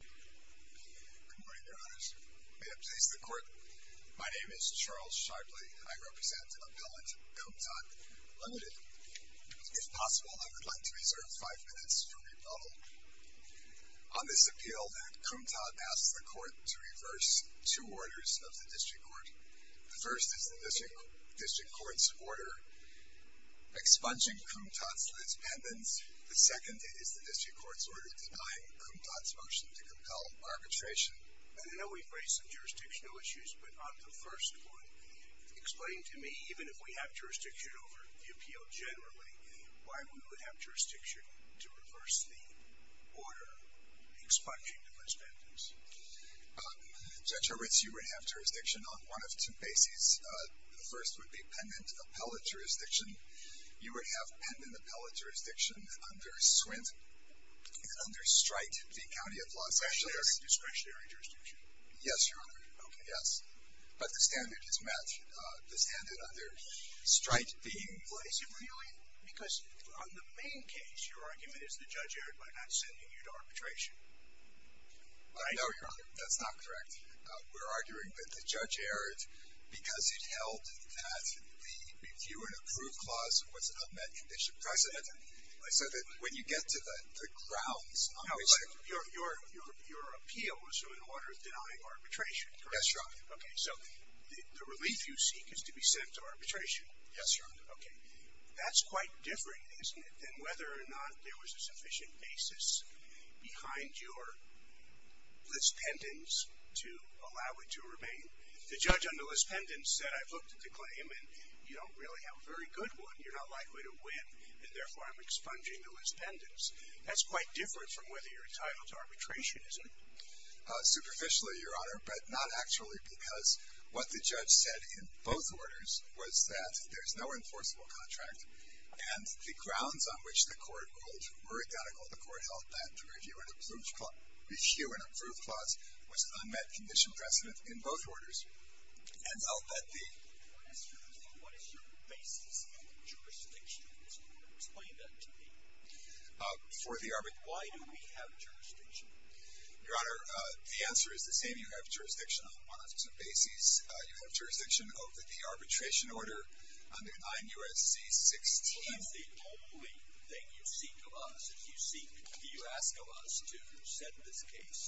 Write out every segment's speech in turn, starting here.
Good morning, Your Honors. May it please the Court, my name is Charles Sharpley. I represent Appellant Kumtat Limited. If possible, I would like to reserve five minutes for rebuttal. On this appeal, Kumtat asked the Court to reverse two orders of the District Court. The first is the District Court's order expunging Kumtat from its pendants. The second is the Appellant Arbitration. I know we've raised some jurisdictional issues, but on the first point, explain to me, even if we have jurisdiction over the appeal generally, why we would have jurisdiction to reverse the order expunging the pendants? Judge Horwitz, you would have jurisdiction on one of two bases. The first would be pendent appellate jurisdiction. You would have pendent appellate jurisdiction under SWINT and under STRITE v. County of Los Angeles. Discretionary jurisdiction? Yes, Your Honor. Okay. Yes. But the standard is met. The standard under STRITE being placed. Is it really? Because on the main case, your argument is that Judge Arendt might not be sending you to arbitration, right? No, Your Honor, that's not correct. We're arguing that Judge Arendt, because he held that the review and approve clause was met in this precedent. So that when you get to the grounds, your appeal was in order of denying arbitration, correct? Yes, Your Honor. Okay. So the relief you seek is to be sent to arbitration. Yes, Your Honor. Okay. That's quite different, isn't it, than whether or not there was a sufficient basis behind your list pendants to allow it to remain. The judge on the list pendants said, I've looked at the claim and you don't really have a very good one. You're not likely to win and therefore I'm expunging the list pendants. That's quite different from whether you're entitled to arbitration, isn't it? Superficially, Your Honor, but not actually because what the judge said in both orders was that there's no enforceable contract and the grounds on which the court ruled were identical. The court held that the review and approve clause was a met condition precedent in both orders and I'll let the... What is your basis in the jurisdiction? Explain that to me. For the arbitration... Why do we have jurisdiction? Your Honor, the answer is the same. You have jurisdiction on one of two bases. You have jurisdiction over the arbitration order under 9 U.S.C. 16... Well, that's the only thing you seek of us. You ask of us to send this case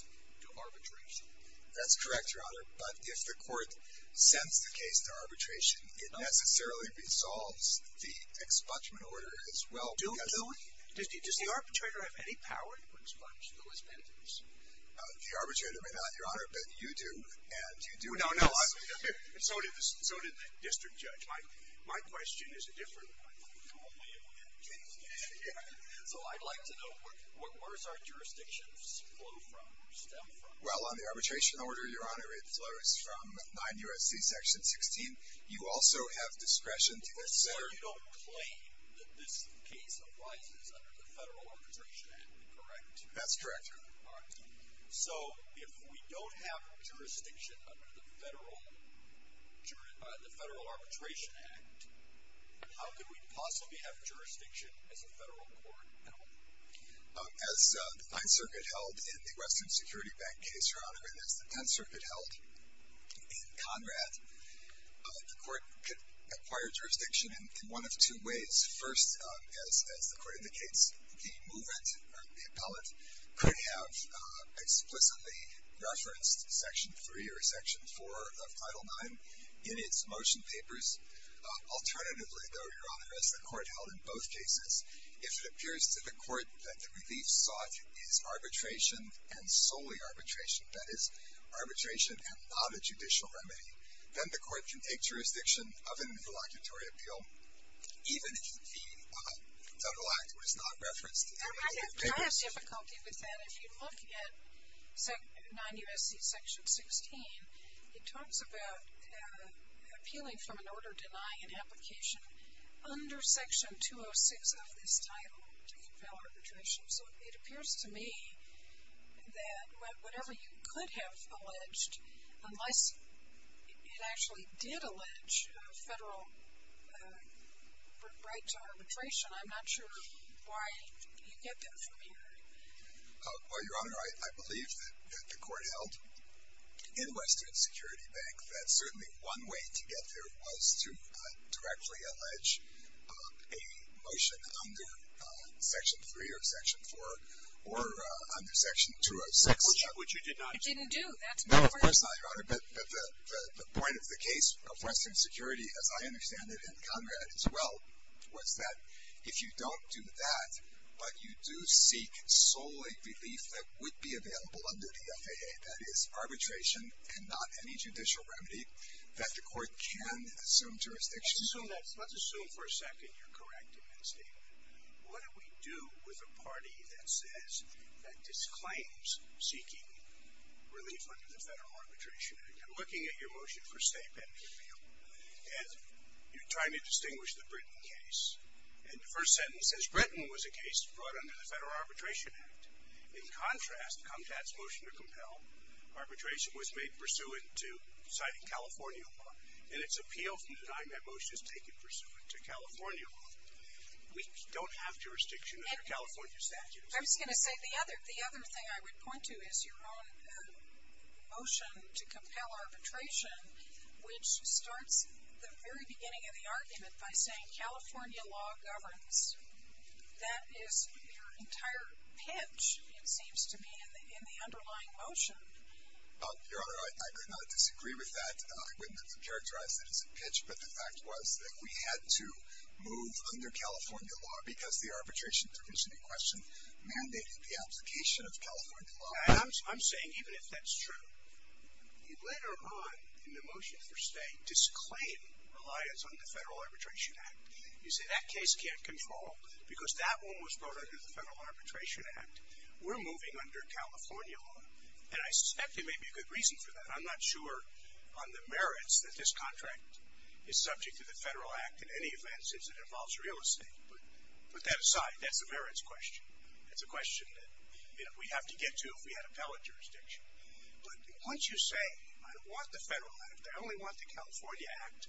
to arbitration. That's correct, Your Honor, but if the court sends the case to arbitration, it necessarily resolves the expungement order as well. Does the arbitrator have any power to expunge the list pendants? The arbitrator may not, Your Honor, but you do and you do... So did the district judge. My question is a different one. So I'd like to know where's our jurisdictions flow from, stem from? Well, on the arbitration order, Your Honor, it flows from 9 U.S.C. section 16. You also have discretion to... So you don't claim that this case arises under the federal arbitration, am I correct? That's correct, Your Honor. All right. So if we don't have jurisdiction under the federal arbitration act, how can we possibly have jurisdiction as a federal court? As the 5th Circuit held in the Western Security Bank case, Your Honor, and as the 10th Circuit held in Conrad, the court could acquire jurisdiction in one of two ways. First, as the court indicates, the movement or the appellate could have explicitly referenced section 3 or section 4 of Title IX in its motion papers. Alternatively, though, Your Honor, as the court held in both cases, if it appears to the court that the relief sought is arbitration and solely arbitration, that is arbitration and not a judicial remedy, then the court can take jurisdiction of an involuntary appeal, even if the federal act was not referenced. I have difficulty with that. If you look at 9 U.S.C. section 16, it talks about appealing from an order denying an application under section 206 of this title to compel arbitration. So it appears to me that whatever you could have alleged, unless it actually did allege a federal uh right to arbitration, I'm not sure why you get that from here. Well, Your Honor, I believe that the court held in Western Security Bank that certainly one way to get there was to directly allege a motion under section 3 or section 4 or under section 206. Which you did not. I didn't do that. No, of course not, Your Honor, but the point of the case of Western Security, as I understand it, and Conrad as well, was that if you don't do that, but you do seek solely relief that would be available under the FAA, that is arbitration and not any judicial remedy, that the court can assume jurisdiction. Let's assume that, let's assume for a second you're correct in that statement. What do we do with a party that says, that disclaims seeking relief under the Federal Arbitration Act? You're looking at your motion for state benefit appeal and you're trying to distinguish the Britain case and the first sentence says Britain was a case brought under the Federal Arbitration Act. In contrast, Comtat's motion to compel arbitration was made pursuant to citing California law and it's appeal from the time that motion is taken pursuant to California law. We don't have jurisdiction under California statute. I was going to say the other, the other thing I would point to is your own motion to compel arbitration, which starts the very beginning of the argument by saying California law governs. That is your entire pitch, it seems to me, in the underlying motion. Your Honor, I could not disagree with that. I wouldn't have to characterize it as a pitch, but the fact was that we had to move under California law because the arbitration provision in question mandated the application of California law. I'm saying even if that's true, you later on in the motion for state disclaim reliance on the Federal Arbitration Act. You say that case can't control because that one was brought under the Federal Arbitration Act. We're moving under California law and I suspect there may be a good reason for that. I'm not sure on the merits that this contract is subject to the Federal Act in any event since it involves real estate, but put that aside. That's a merits question. It's a question that, you know, we have to get to if we had appellate jurisdiction. But once you say, I don't want the Federal Act, I only want the California Act,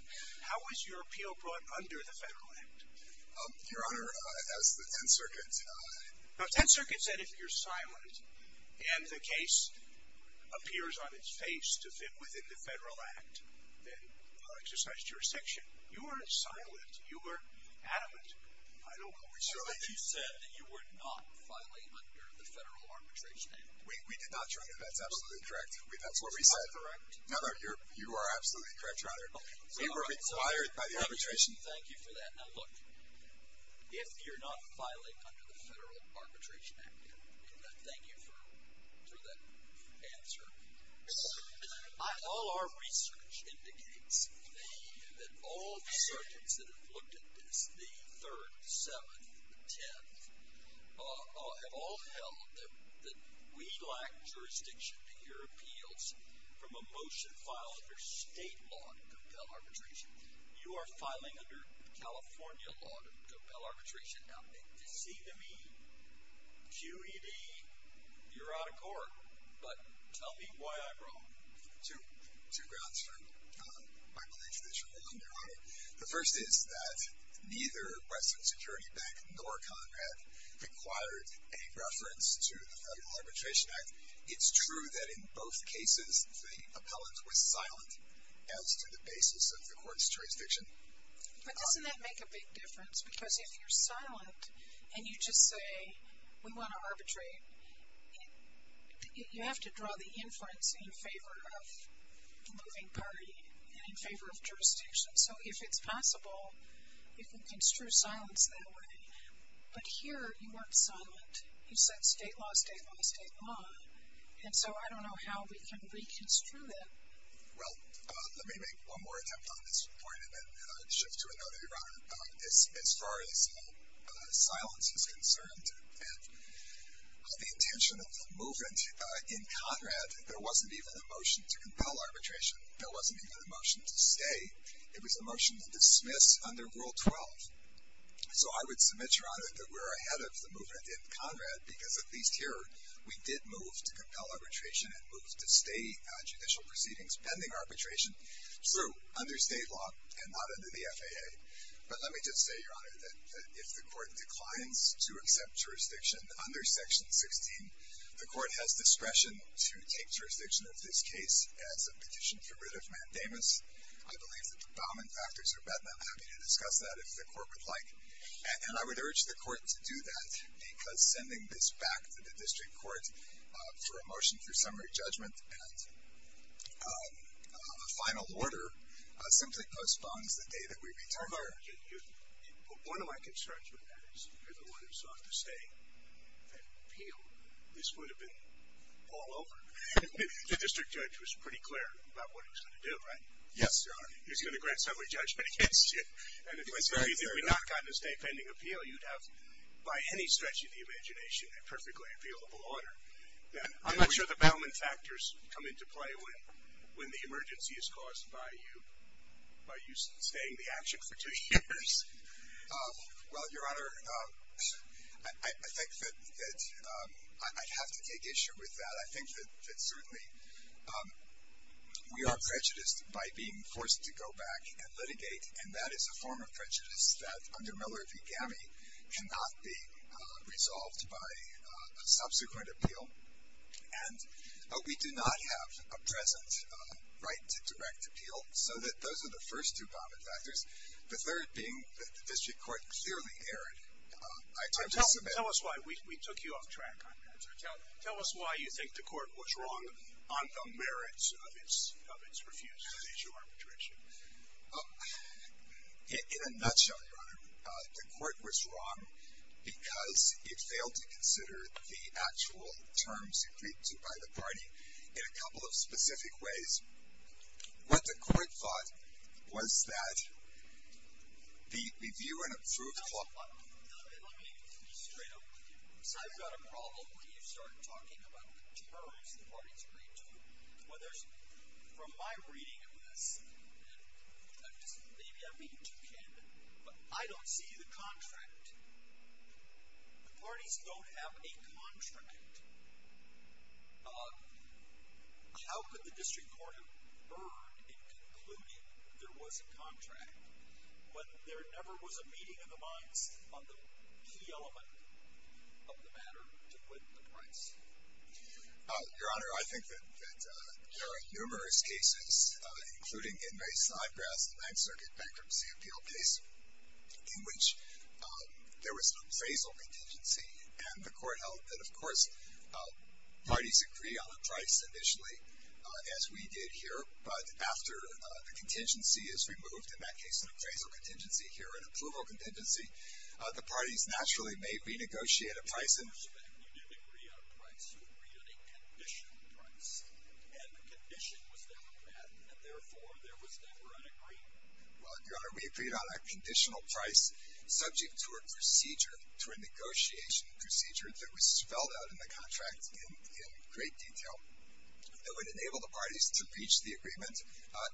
how is your appeal brought under the Federal Act? Your Honor, as the 10th Circuit... Now, 10th Circuit said if you're silent and the case appears on its face to fit within the Federal Act, then I'll exercise jurisdiction. You weren't silent. You were adamant. I don't know if we should... I thought you said that you were not filing under the Federal Arbitration Act. We did not, Your Honor. That's absolutely correct. That's what we said. Am I correct? No, no. You are absolutely correct, Your Honor. We were required by the arbitration... Thank you for that. Now look, if you're not filing under the Federal Arbitration Act, thank you for that answer. All our research indicates that all the circuits that have looked at this, the 3rd, 7th, the 10th, have all held that we lack jurisdiction to hear appeals from a motion filed under state law to compel arbitration. You are filing under California law to compel arbitration. Now, it seems to me, QED, you're out of court, but tell me why I'm wrong. Two grounds for my belief that you're wrong, Your Honor. The first is that neither Western Security Bank nor Conrad required any reference to the Federal Arbitration Act. It's true that in both cases, the appellant was silent as to the basis of the court's jurisdiction. But doesn't that make a big difference? Because if you're silent and you just say, we want to arbitrate, you have to draw the inference in favor of the moving party and in favor of jurisdiction. So if it's possible, you can construe silence that way. But here, you weren't silent. You said state law, state law, state law. And so I don't know how we can shift to another, Your Honor, as far as silence is concerned. And the intention of the movement in Conrad, there wasn't even a motion to compel arbitration. There wasn't even a motion to stay. It was a motion to dismiss under Rule 12. So I would submit, Your Honor, that we're ahead of the movement in Conrad because at least here, we did move to compel arbitration and move to stay judicial proceedings pending arbitration through under state law and not under the FAA. But let me just say, Your Honor, that if the court declines to accept jurisdiction under Section 16, the court has discretion to take jurisdiction of this case as a petition for writ of mandamus. I believe that the Bowman factors are met, and I'm happy to discuss that if the court would like. And I would urge the court to do that because sending this back to the district court for a motion for summary judgment and a final order simply postpones the day that we return. One of my concerns with that is, if you're the one who sought to stay and appeal, this would have been all over. The district judge was pretty clear about what he was going to do, right? Yes, Your Honor. He was going to grant summary judgment against you. And if we had not gotten a stay pending appeal, you'd have, by any stretch of the imagination, a perfectly appealable order. I'm not sure the Bowman factors come into play when the emergency is caused by you staying the action for two years. Well, Your Honor, I think that I'd have to take issue with that. I think that certainly we are prejudiced by being forced to go back and litigate, and that is a form of prejudice that, under Miller v. Gammie, cannot be resolved by a subsequent appeal. But we do not have a present right to direct appeal. So those are the first two Bowman factors. The third being that the district court clearly erred. I just submit— Tell us why we took you off track on that. Tell us why you think the court was wrong on the merits of its refusal to issue arbitration. In a nutshell, Your Honor, the court was wrong because it failed to consider the actual terms agreed to by the party in a couple of specific ways. What the court thought was that the view— Let me be straight up with you. I've got a problem when you start talking about the terms the parties agreed to. From my reading of this, maybe I'm being too candid, but I don't see the contract. The parties don't have a contract. How could the district court have erred in concluding there was a contract when there never was a meeting in the minds of the key element of the matter to win the price? Your Honor, I think that there are numerous cases, including in my side graph, the Ninth Circuit Bankruptcy Appeal case, in which there was an appraisal contingency and the court held that, of course, parties agree on the price initially, as we did here. But after the contingency is removed—in that case, an appraisal contingency here or an approval contingency—the parties naturally may renegotiate a price in retrospect. You didn't agree on a price. You agreed on a condition price, and the condition was never met, and therefore, there was never an agreement. Well, Your Honor, we agreed on a conditional price subject to a procedure, to a negotiation procedure that was spelled out in the contract in great detail that would enable the parties to reach the agreement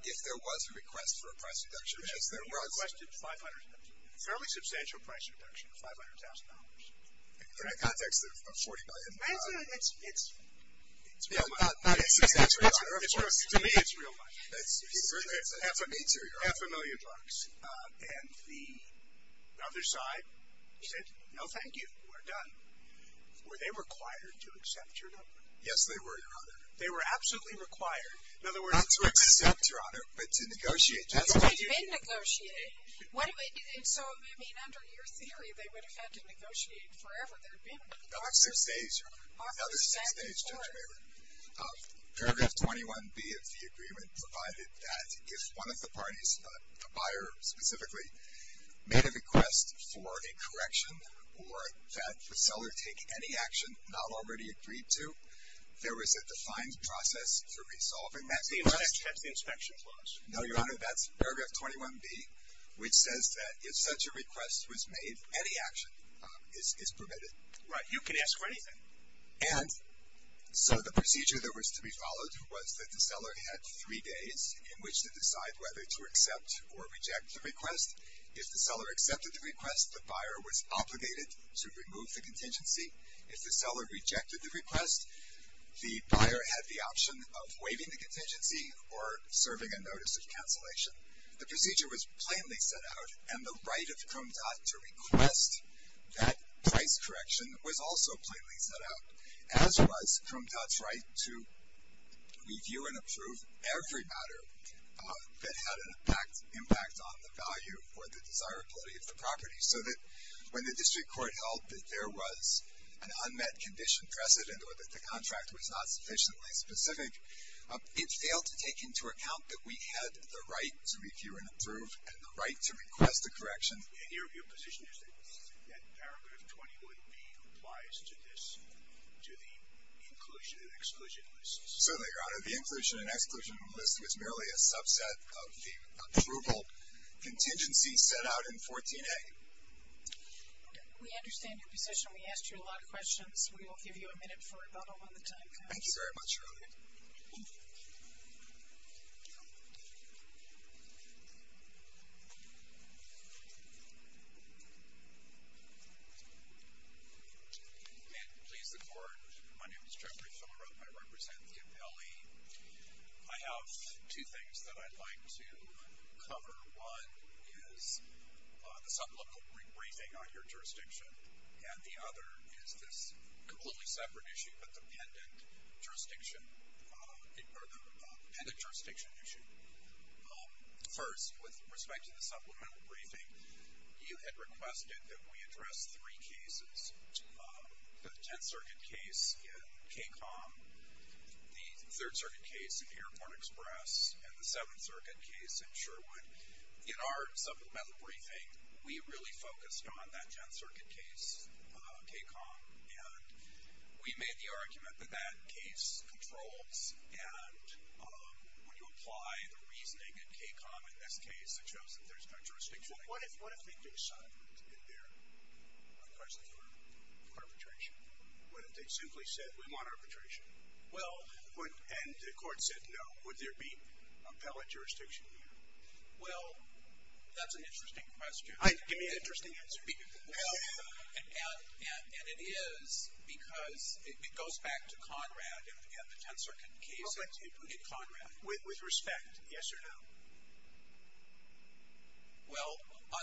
if there was a request for a price reduction, which is there was— You requested $500,000, a fairly substantial price reduction of $500,000. Correct. In the context of $40 million. It's real money. Not substantial. To me, it's real money. It's half a meter, Your Honor. Half a million bucks. And the other side said, no, thank you. We're done. Were they required to accept your number? Yes, they were, Your Honor. They were absolutely required, in other words— Not to accept, Your Honor, but to negotiate. But they had been negotiated. So, I mean, under your theory, they would have had to negotiate forever. They had been. Another six days, Your Honor. Another six days, Judge Mayweather. Paragraph 21B of the agreement provided that if one of the parties, the buyer specifically, made a request for a correction or that the seller take any action not already agreed to, there was a defined process to resolve. And that's the inspection clause. No, Your Honor, that's paragraph 21B, which says that if such a request was made, any action is permitted. Right. You can ask for anything. And so the procedure that was to be followed was that the seller had three days in which to decide whether to accept or reject the request. If the seller accepted the request, the buyer was obligated to remove the contingency. If the seller rejected the request, the buyer had the option of waiving the contingency or serving a notice of cancellation. The procedure was plainly set out. And the right of Crumdod to request that price correction was also plainly set out, as was Crumdod's right to review and approve every matter that had an impact on the value or the desirability of the property. So that when the district court held that there was an unmet condition precedent or that the contract was not sufficiently specific, it failed to take into account that we had the right to review and approve and the right to request a correction. And your position is that paragraph 21B applies to this, to the inclusion and exclusion list? Certainly, Your Honor. The inclusion and exclusion list was merely a subset of the approval contingency set out in 14A. Okay. We understand your position. We asked you a lot of questions. We will give you a minute for a bubble on the time. Thank you very much, Your Honor. And please, the court. My name is Jeffrey Fillarope. I represent the appellee. I have two things that I'd like to cover. One is the supplemental briefing on your jurisdiction, and the other is this completely separate issue, but the pendant jurisdiction issue. First, with respect to the supplemental briefing, you had requested that we address three cases. The Tenth Circuit case in KCOM, the Third Circuit case in Airport Express, and the Seventh Circuit case in Sherwood. In our supplemental briefing, we really focused on that Tenth Circuit case, KCOM, and we made the argument that that case controls. And when you apply the reasoning in KCOM in this case, it shows that there's no jurisdiction. What if they decided in their request for arbitration? What if they simply said, we want arbitration? Well, and the court said no, would there be appellate jurisdiction here? Well, that's an interesting question. Give me an interesting answer. And it is because it goes back to Conrad and the Tenth Circuit case in Conrad. With respect, yes or no? Well,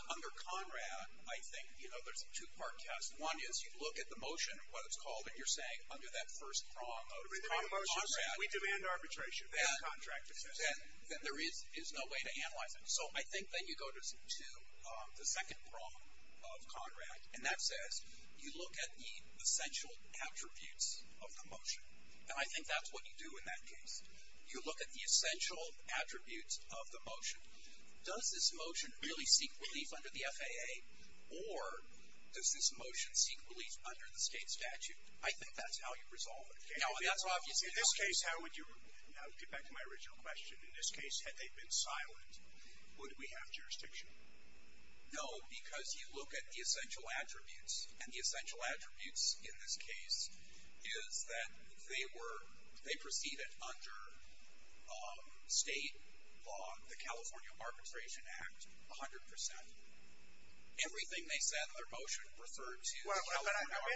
under Conrad, I think, you know, there's a two-part test. One is you look at the motion, what it's called, and you're saying under that first prong of Conrad. We demand arbitration. Then there is no way to analyze it. So I think that you go to the second prong of Conrad, and that says, you look at the essential attributes of the motion. And I think that's what you do in that case. You look at the essential attributes of the motion. Does this motion really seek relief under the FAA? Or does this motion seek relief under the state statute? I think that's how you resolve it. Now, in this case, how would you, I'll get back to my original question. In this case, had they been silent, would we have jurisdiction? No, because you look at the essential attributes. And the essential attributes in this case is that they were, they proceeded under state law, the California Arbitration Act, 100%. Everything they said in their motion referred to California arbitration. But I'm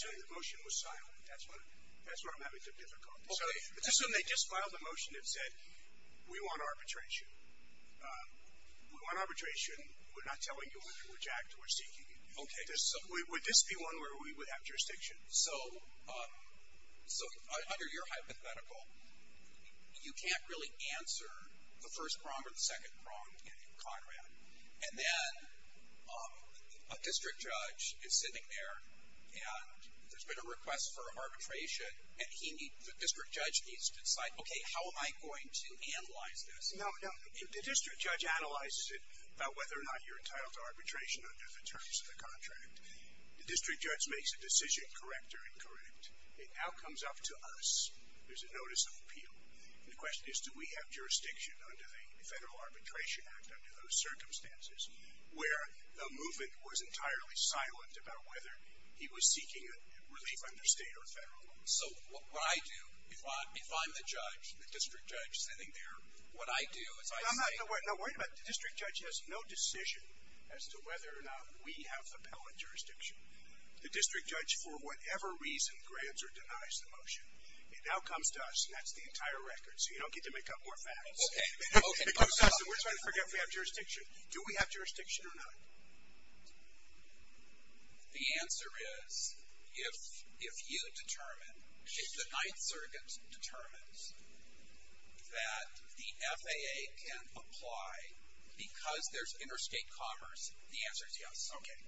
assuming the motion was silent. That's where I'm having some difficulty. So let's assume they just filed the motion and said, we want arbitration. We want arbitration. We're not telling you under which act we're seeking it. Would this be one where we would have jurisdiction? So under your hypothetical, you can't really answer the first prong or the second prong in Conrad. And then a district judge is sitting there and there's been a request for arbitration. And he needs, the district judge needs to decide, okay, how am I going to analyze this? No, no, the district judge analyzes it about whether or not you're entitled to arbitration under the terms of the contract. The district judge makes a decision, correct or incorrect. It now comes up to us. There's a notice of appeal. And the question is, do we have jurisdiction under the Federal Arbitration Act, under those circumstances, where the movement was entirely silent about whether he was seeking a relief under state or federal law? So what I do, if I'm the judge, the district judge sitting there, what I do is I say- No, no, no, wait a minute. The district judge has no decision as to whether or not we have appellate jurisdiction. The district judge, for whatever reason, grants or denies the motion. It now comes to us. And that's the entire record. So you don't get to make up more facts. Okay, okay. We're trying to figure out if we have jurisdiction. Do we have jurisdiction or not? The answer is, if you determine, if the Ninth Circuit determines that the FAA can apply because there's interstate commerce, the answer is yes. Okay.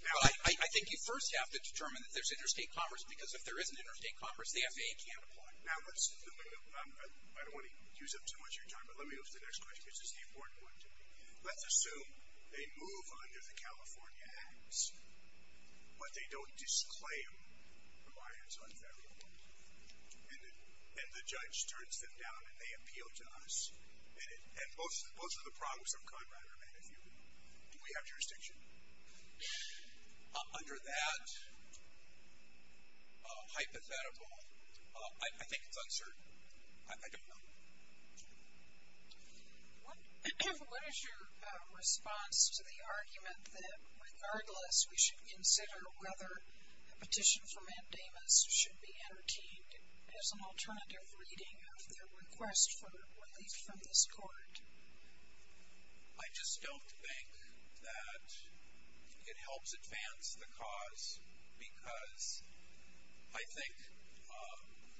Well, I think you first have to determine that there's interstate commerce, because if there isn't interstate commerce, the FAA can't apply. Now, I don't want to use up too much of your time, but let me go to the next question, because this is the important one to me. Let's assume they move under the California acts, but they don't disclaim why it's unfavorable. And the judge turns them down and they appeal to us. And both of the problems of Conrad are manifielded. Do we have jurisdiction? Under that hypothetical, I think it's uncertain. I don't know. What is your response to the argument that regardless, we should consider whether a petition for mandamus should be entertained as an alternative reading of their request for relief from this court? I just don't think that it helps advance the cause, because I think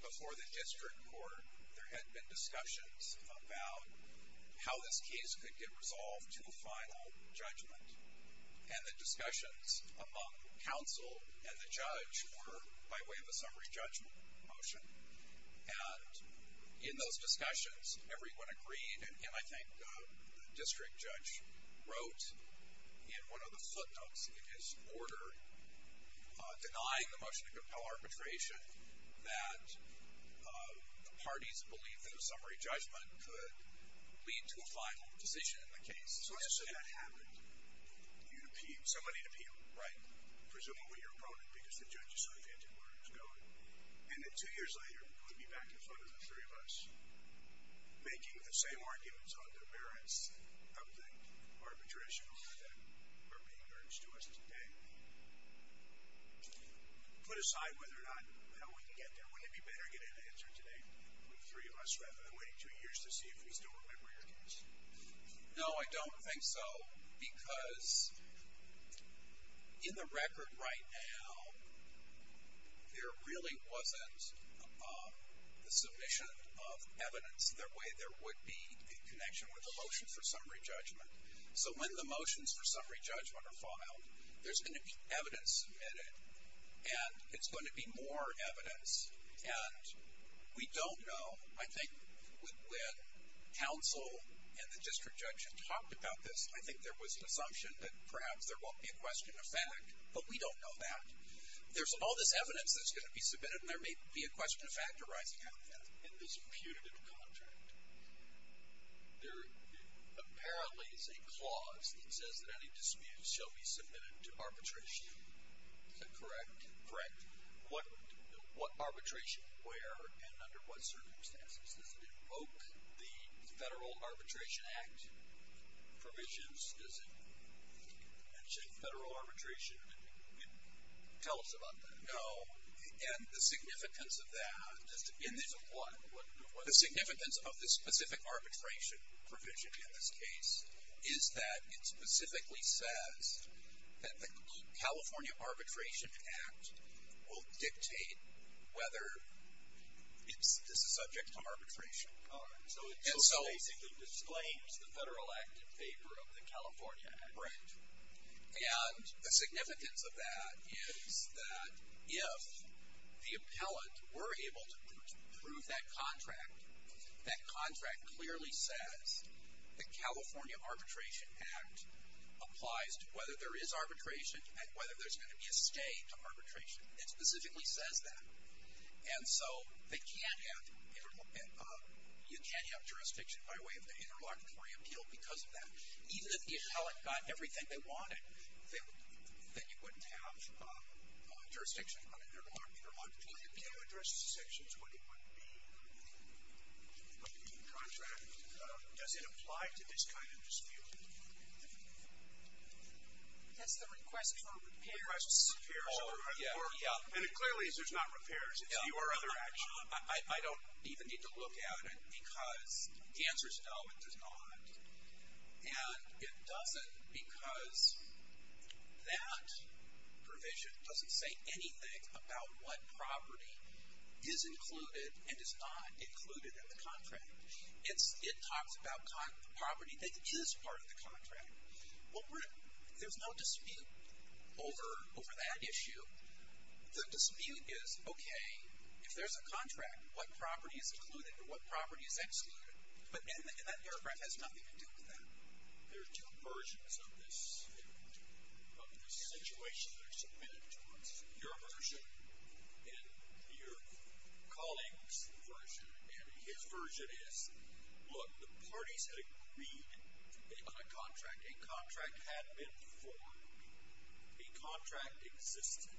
before the district court, there had been discussions about how this case could get resolved to a final judgment. And the discussions among counsel and the judge were by way of a summary judgment motion. And in those discussions, everyone agreed. And I think the district judge wrote in one of the footnotes in his order, denying the motion to compel arbitration, that the parties believed that a summary judgment could lead to a final decision in the case. So let's assume that happened. You'd appeal. Somebody'd appeal. Right. Presumably your opponent, because the judge is so intent on where it was going. And then two years later, we'd be back in front of the three of us, making the same arguments on the merits of the arbitration order that are being urged to us today. So put aside whether or not, how we can get there, wouldn't it be better to get an answer today with the three of us, rather than waiting two years to see if we still remember your case? No, I don't think so. Because in the record right now, there really wasn't the submission of evidence that way there would be a connection with a motion for summary judgment. So when the motions for summary judgment are filed, there's going to be evidence submitted. And it's going to be more evidence. And we don't know. I think when counsel and the district judge had talked about this, I think there was an assumption that perhaps there won't be a question of fact. But we don't know that. There's all this evidence that's going to be submitted, and there may be a question of fact arising out of that. In this punitive contract, there apparently is a clause that says that any disputes shall be submitted to arbitration. Is that correct? Correct. What arbitration? Where and under what circumstances? Does it invoke the Federal Arbitration Act provisions? Does it mention federal arbitration? Tell us about that. No. And the significance of that, the significance of the specific arbitration provision in this case, is that it specifically says that the California Arbitration Act will dictate whether this is subject to arbitration. All right. So it basically disclaims the federal act in favor of the California Act. Right. And the significance of that is that if the appellant were able to prove that contract, that contract clearly says the California Arbitration Act applies to whether there is arbitration and whether there's going to be a stay to arbitration. It specifically says that. And so they can't have, you can't have jurisdiction by way of the interlocutory appeal because of that. Even if the appellant got everything they wanted, then you wouldn't have jurisdiction on an interlocutory appeal. Can you address the sections, what it would be, of the contract? Does it apply to this kind of dispute? That's the request for repairs. Request for repairs. Oh, yeah, yeah. And it clearly is, there's not repairs. It's you or other action. I don't even need to look at it because the answer is no, it does not. And it doesn't because that provision doesn't say anything about what property is included and is not included in the contract. It talks about property that is part of the contract. There's no dispute over that issue. The dispute is, okay, if there's a contract, what property is included or what property is excluded? But then that paragraph has nothing to do with that. There are two versions of this, of this situation that are submitted to us. Your version and your colleague's version. And his version is, look, the parties had agreed on a contract. A contract had been formed. A contract existed.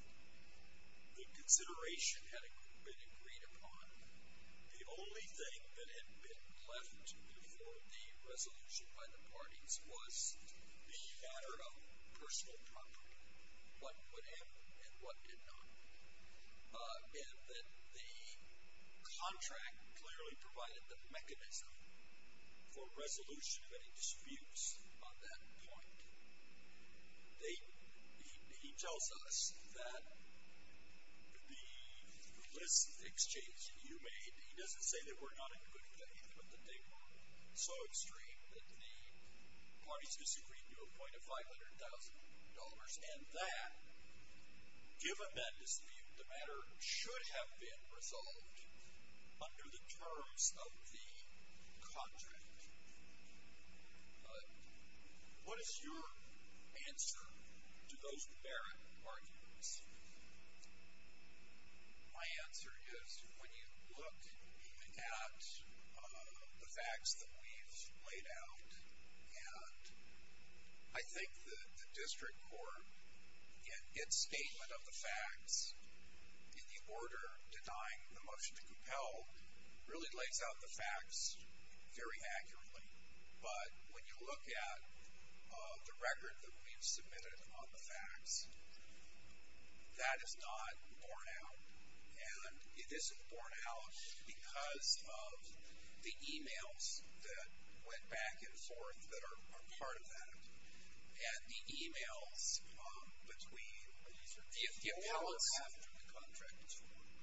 The consideration had been agreed upon. The only thing that had been left for the resolution by the parties was the matter of personal property. What would happen and what did not. And then the contract clearly provided the mechanism for resolution of any disputes on that point. He tells us that the list exchange you made, he doesn't say that we're not in good faith, but that they were so extreme that the parties disagreed to a point of $500,000 and that, given that dispute, the matter should have been resolved under the terms of the contract. What is your answer to those barren arguments? My answer is when you look at the facts that we've laid out and I think the district court in its statement of the facts in the order denying the motion to compel really lays out the facts very accurately. But when you look at the record that we've submitted on the facts, that is not borne out. And it isn't borne out because of the emails that went back and forth that are part of that. And the emails between the appellants,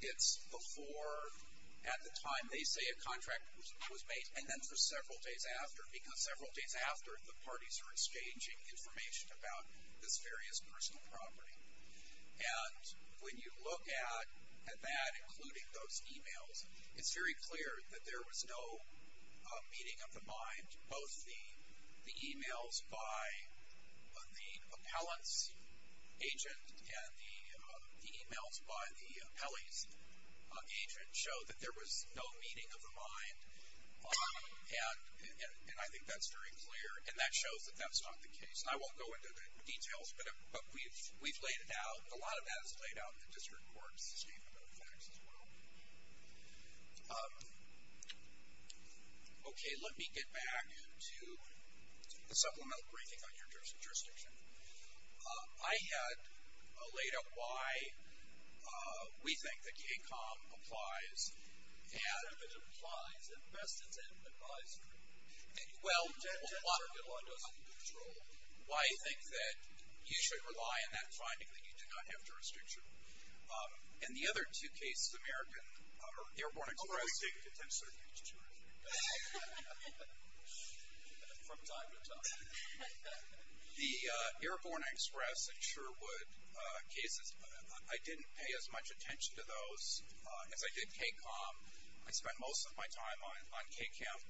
it's before at the time they say a contract was made and then for several days after because several days after the parties are exchanging information about this various personal property. And when you look at that, including those emails, it's very clear that there was no meeting of the mind, both the emails by the appellant's agent and the emails by the appellee's agent show that there was no meeting of the mind. And I think that's very clear. And that shows that that's not the case. And I won't go into the details, but we've laid it out. A lot of that is laid out in the district court's statement of the facts as well. Okay. Let me get back to the supplemental briefing on your jurisdiction. I had laid out why we think that KCOM applies. And it applies, and the best it's advised for. Well, why I think that you should rely on that finding that you do not have jurisdiction. And the other two cases, American or Airborne Express. How long have you been taking attention to these two cases? From time to time. The Airborne Express and Sherwood cases, I didn't pay as much attention to those as I did KCOM. I spent most of my time on KCOM.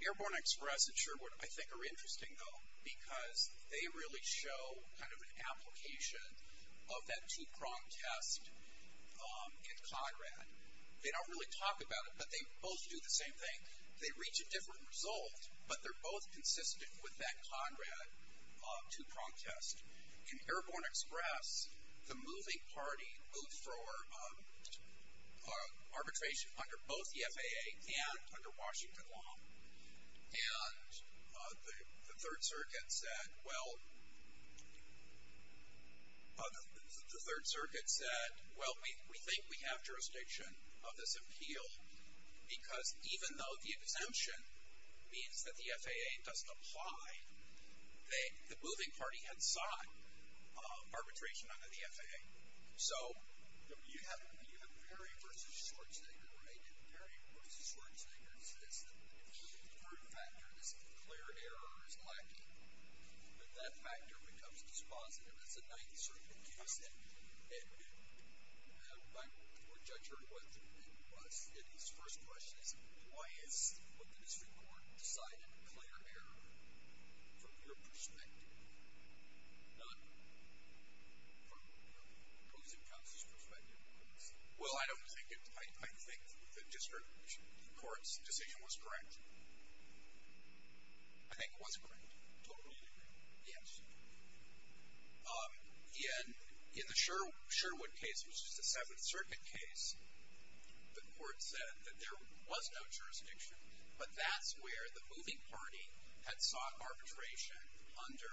Airborne Express and Sherwood, I think are interesting though because they really show kind of an application of that two-prong test in Conrad. They don't really talk about it, but they both do the same thing. They reach a different result, but they're both consistent with that Conrad two-prong test. In Airborne Express, the moving party moved for arbitration under both the FAA and under Washington law. And the Third Circuit said, well, we think we have jurisdiction of this appeal because even though the exemption means that the FAA doesn't apply, the moving party had sought arbitration under the FAA. So you have Perry versus Schwarzenegger, right? The third factor is a clear error is lacking, but that factor becomes dispositive as the Ninth Circuit case ended. My court judge heard what it was, and his first question is, why is what the district court decided a clear error from your perspective, not from opposing counsel's perspective? Well, I don't think it was. I think the district court's decision was correct. I think it was correct. Totally agree. Yes. In the Sherwood case, which is the Seventh Circuit case, the court said that there was no jurisdiction, but that's where the moving party had sought arbitration under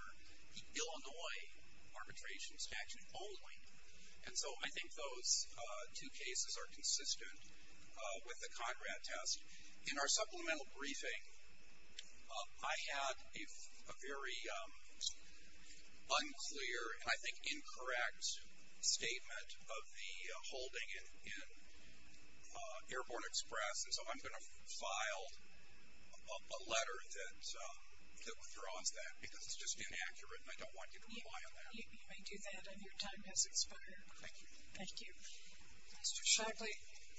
Illinois arbitration statute only. And so I think those two cases are consistent with the Conrad test. In our supplemental briefing, I had a very unclear and I think incorrect statement of the holding in Airborne Express. And so I'm going to file a letter that withdraws that because it's just inaccurate, and I don't want you to rely on that. You may do that if your time has expired. Thank you. Mr. Shockley,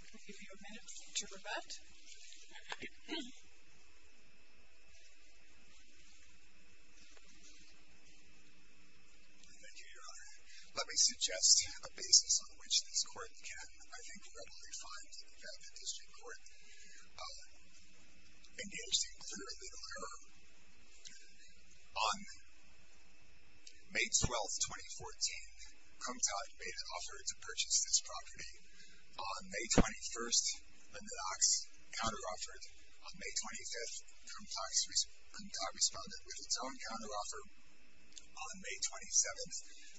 I'll give you a minute to rebut. Thank you, Your Honor. Let me suggest a basis on which this court can, I think, readily find that the district court engaged in clear and literal error On May 12th, 2014, Kumtah made an offer to purchase this property. On May 21st, Lindenox counter-offered. On May 25th, Kumtah responded with its own counter-offer. On May 27th,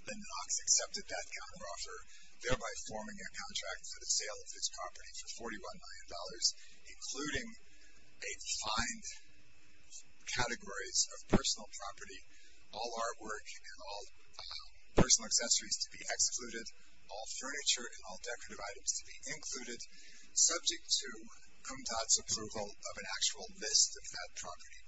Lindenox accepted that counter-offer, thereby forming a contract for the sale of this property for $41 million, including a defined categories of personal property, all artwork and all personal accessories to be excluded, all furniture and all decorative items to be included, subject to Kumtah's approval of an actual list of that property.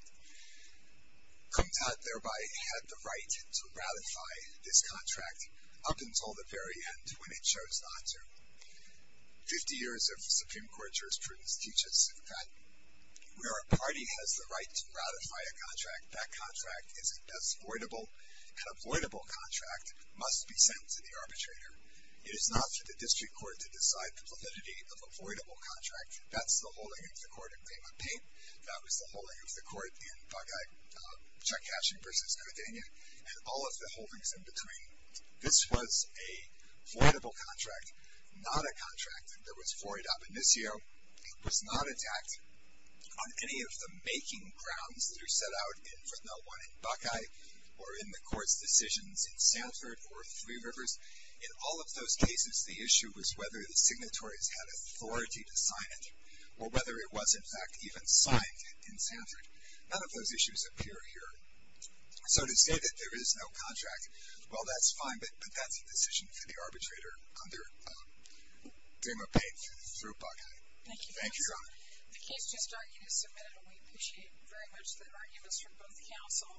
Kumtah thereby had the right to ratify this contract up until the very end when it chose not to. 50 years of Supreme Court jurisprudence teaches that where a party has the right to ratify a contract, that contract is voidable, and a voidable contract must be sent to the arbitrator. It is not for the district court to decide the validity of a voidable contract. That's the holding of the court in Paymont Paint. That was the holding of the court in Bagai, Chuck Cashin v. Cadenya, and all of the holdings in between. This was a voidable contract, not a contract that was void ab initio, was not attacked on any of the making grounds that are set out in Fresnel 1 in Bagai, or in the court's decisions in Sanford or Three Rivers. In all of those cases, the issue was whether the signatories had authority to sign it, or whether it was in fact even signed in Sanford. None of those issues appear here. So to say that there is no contract, well that's fine, but that's a decision for the arbitrator under Paymont Paint through Bagai. Thank you. Thank you, Your Honor. The case just argued is submitted, and we appreciate very much the arguments from both counsel.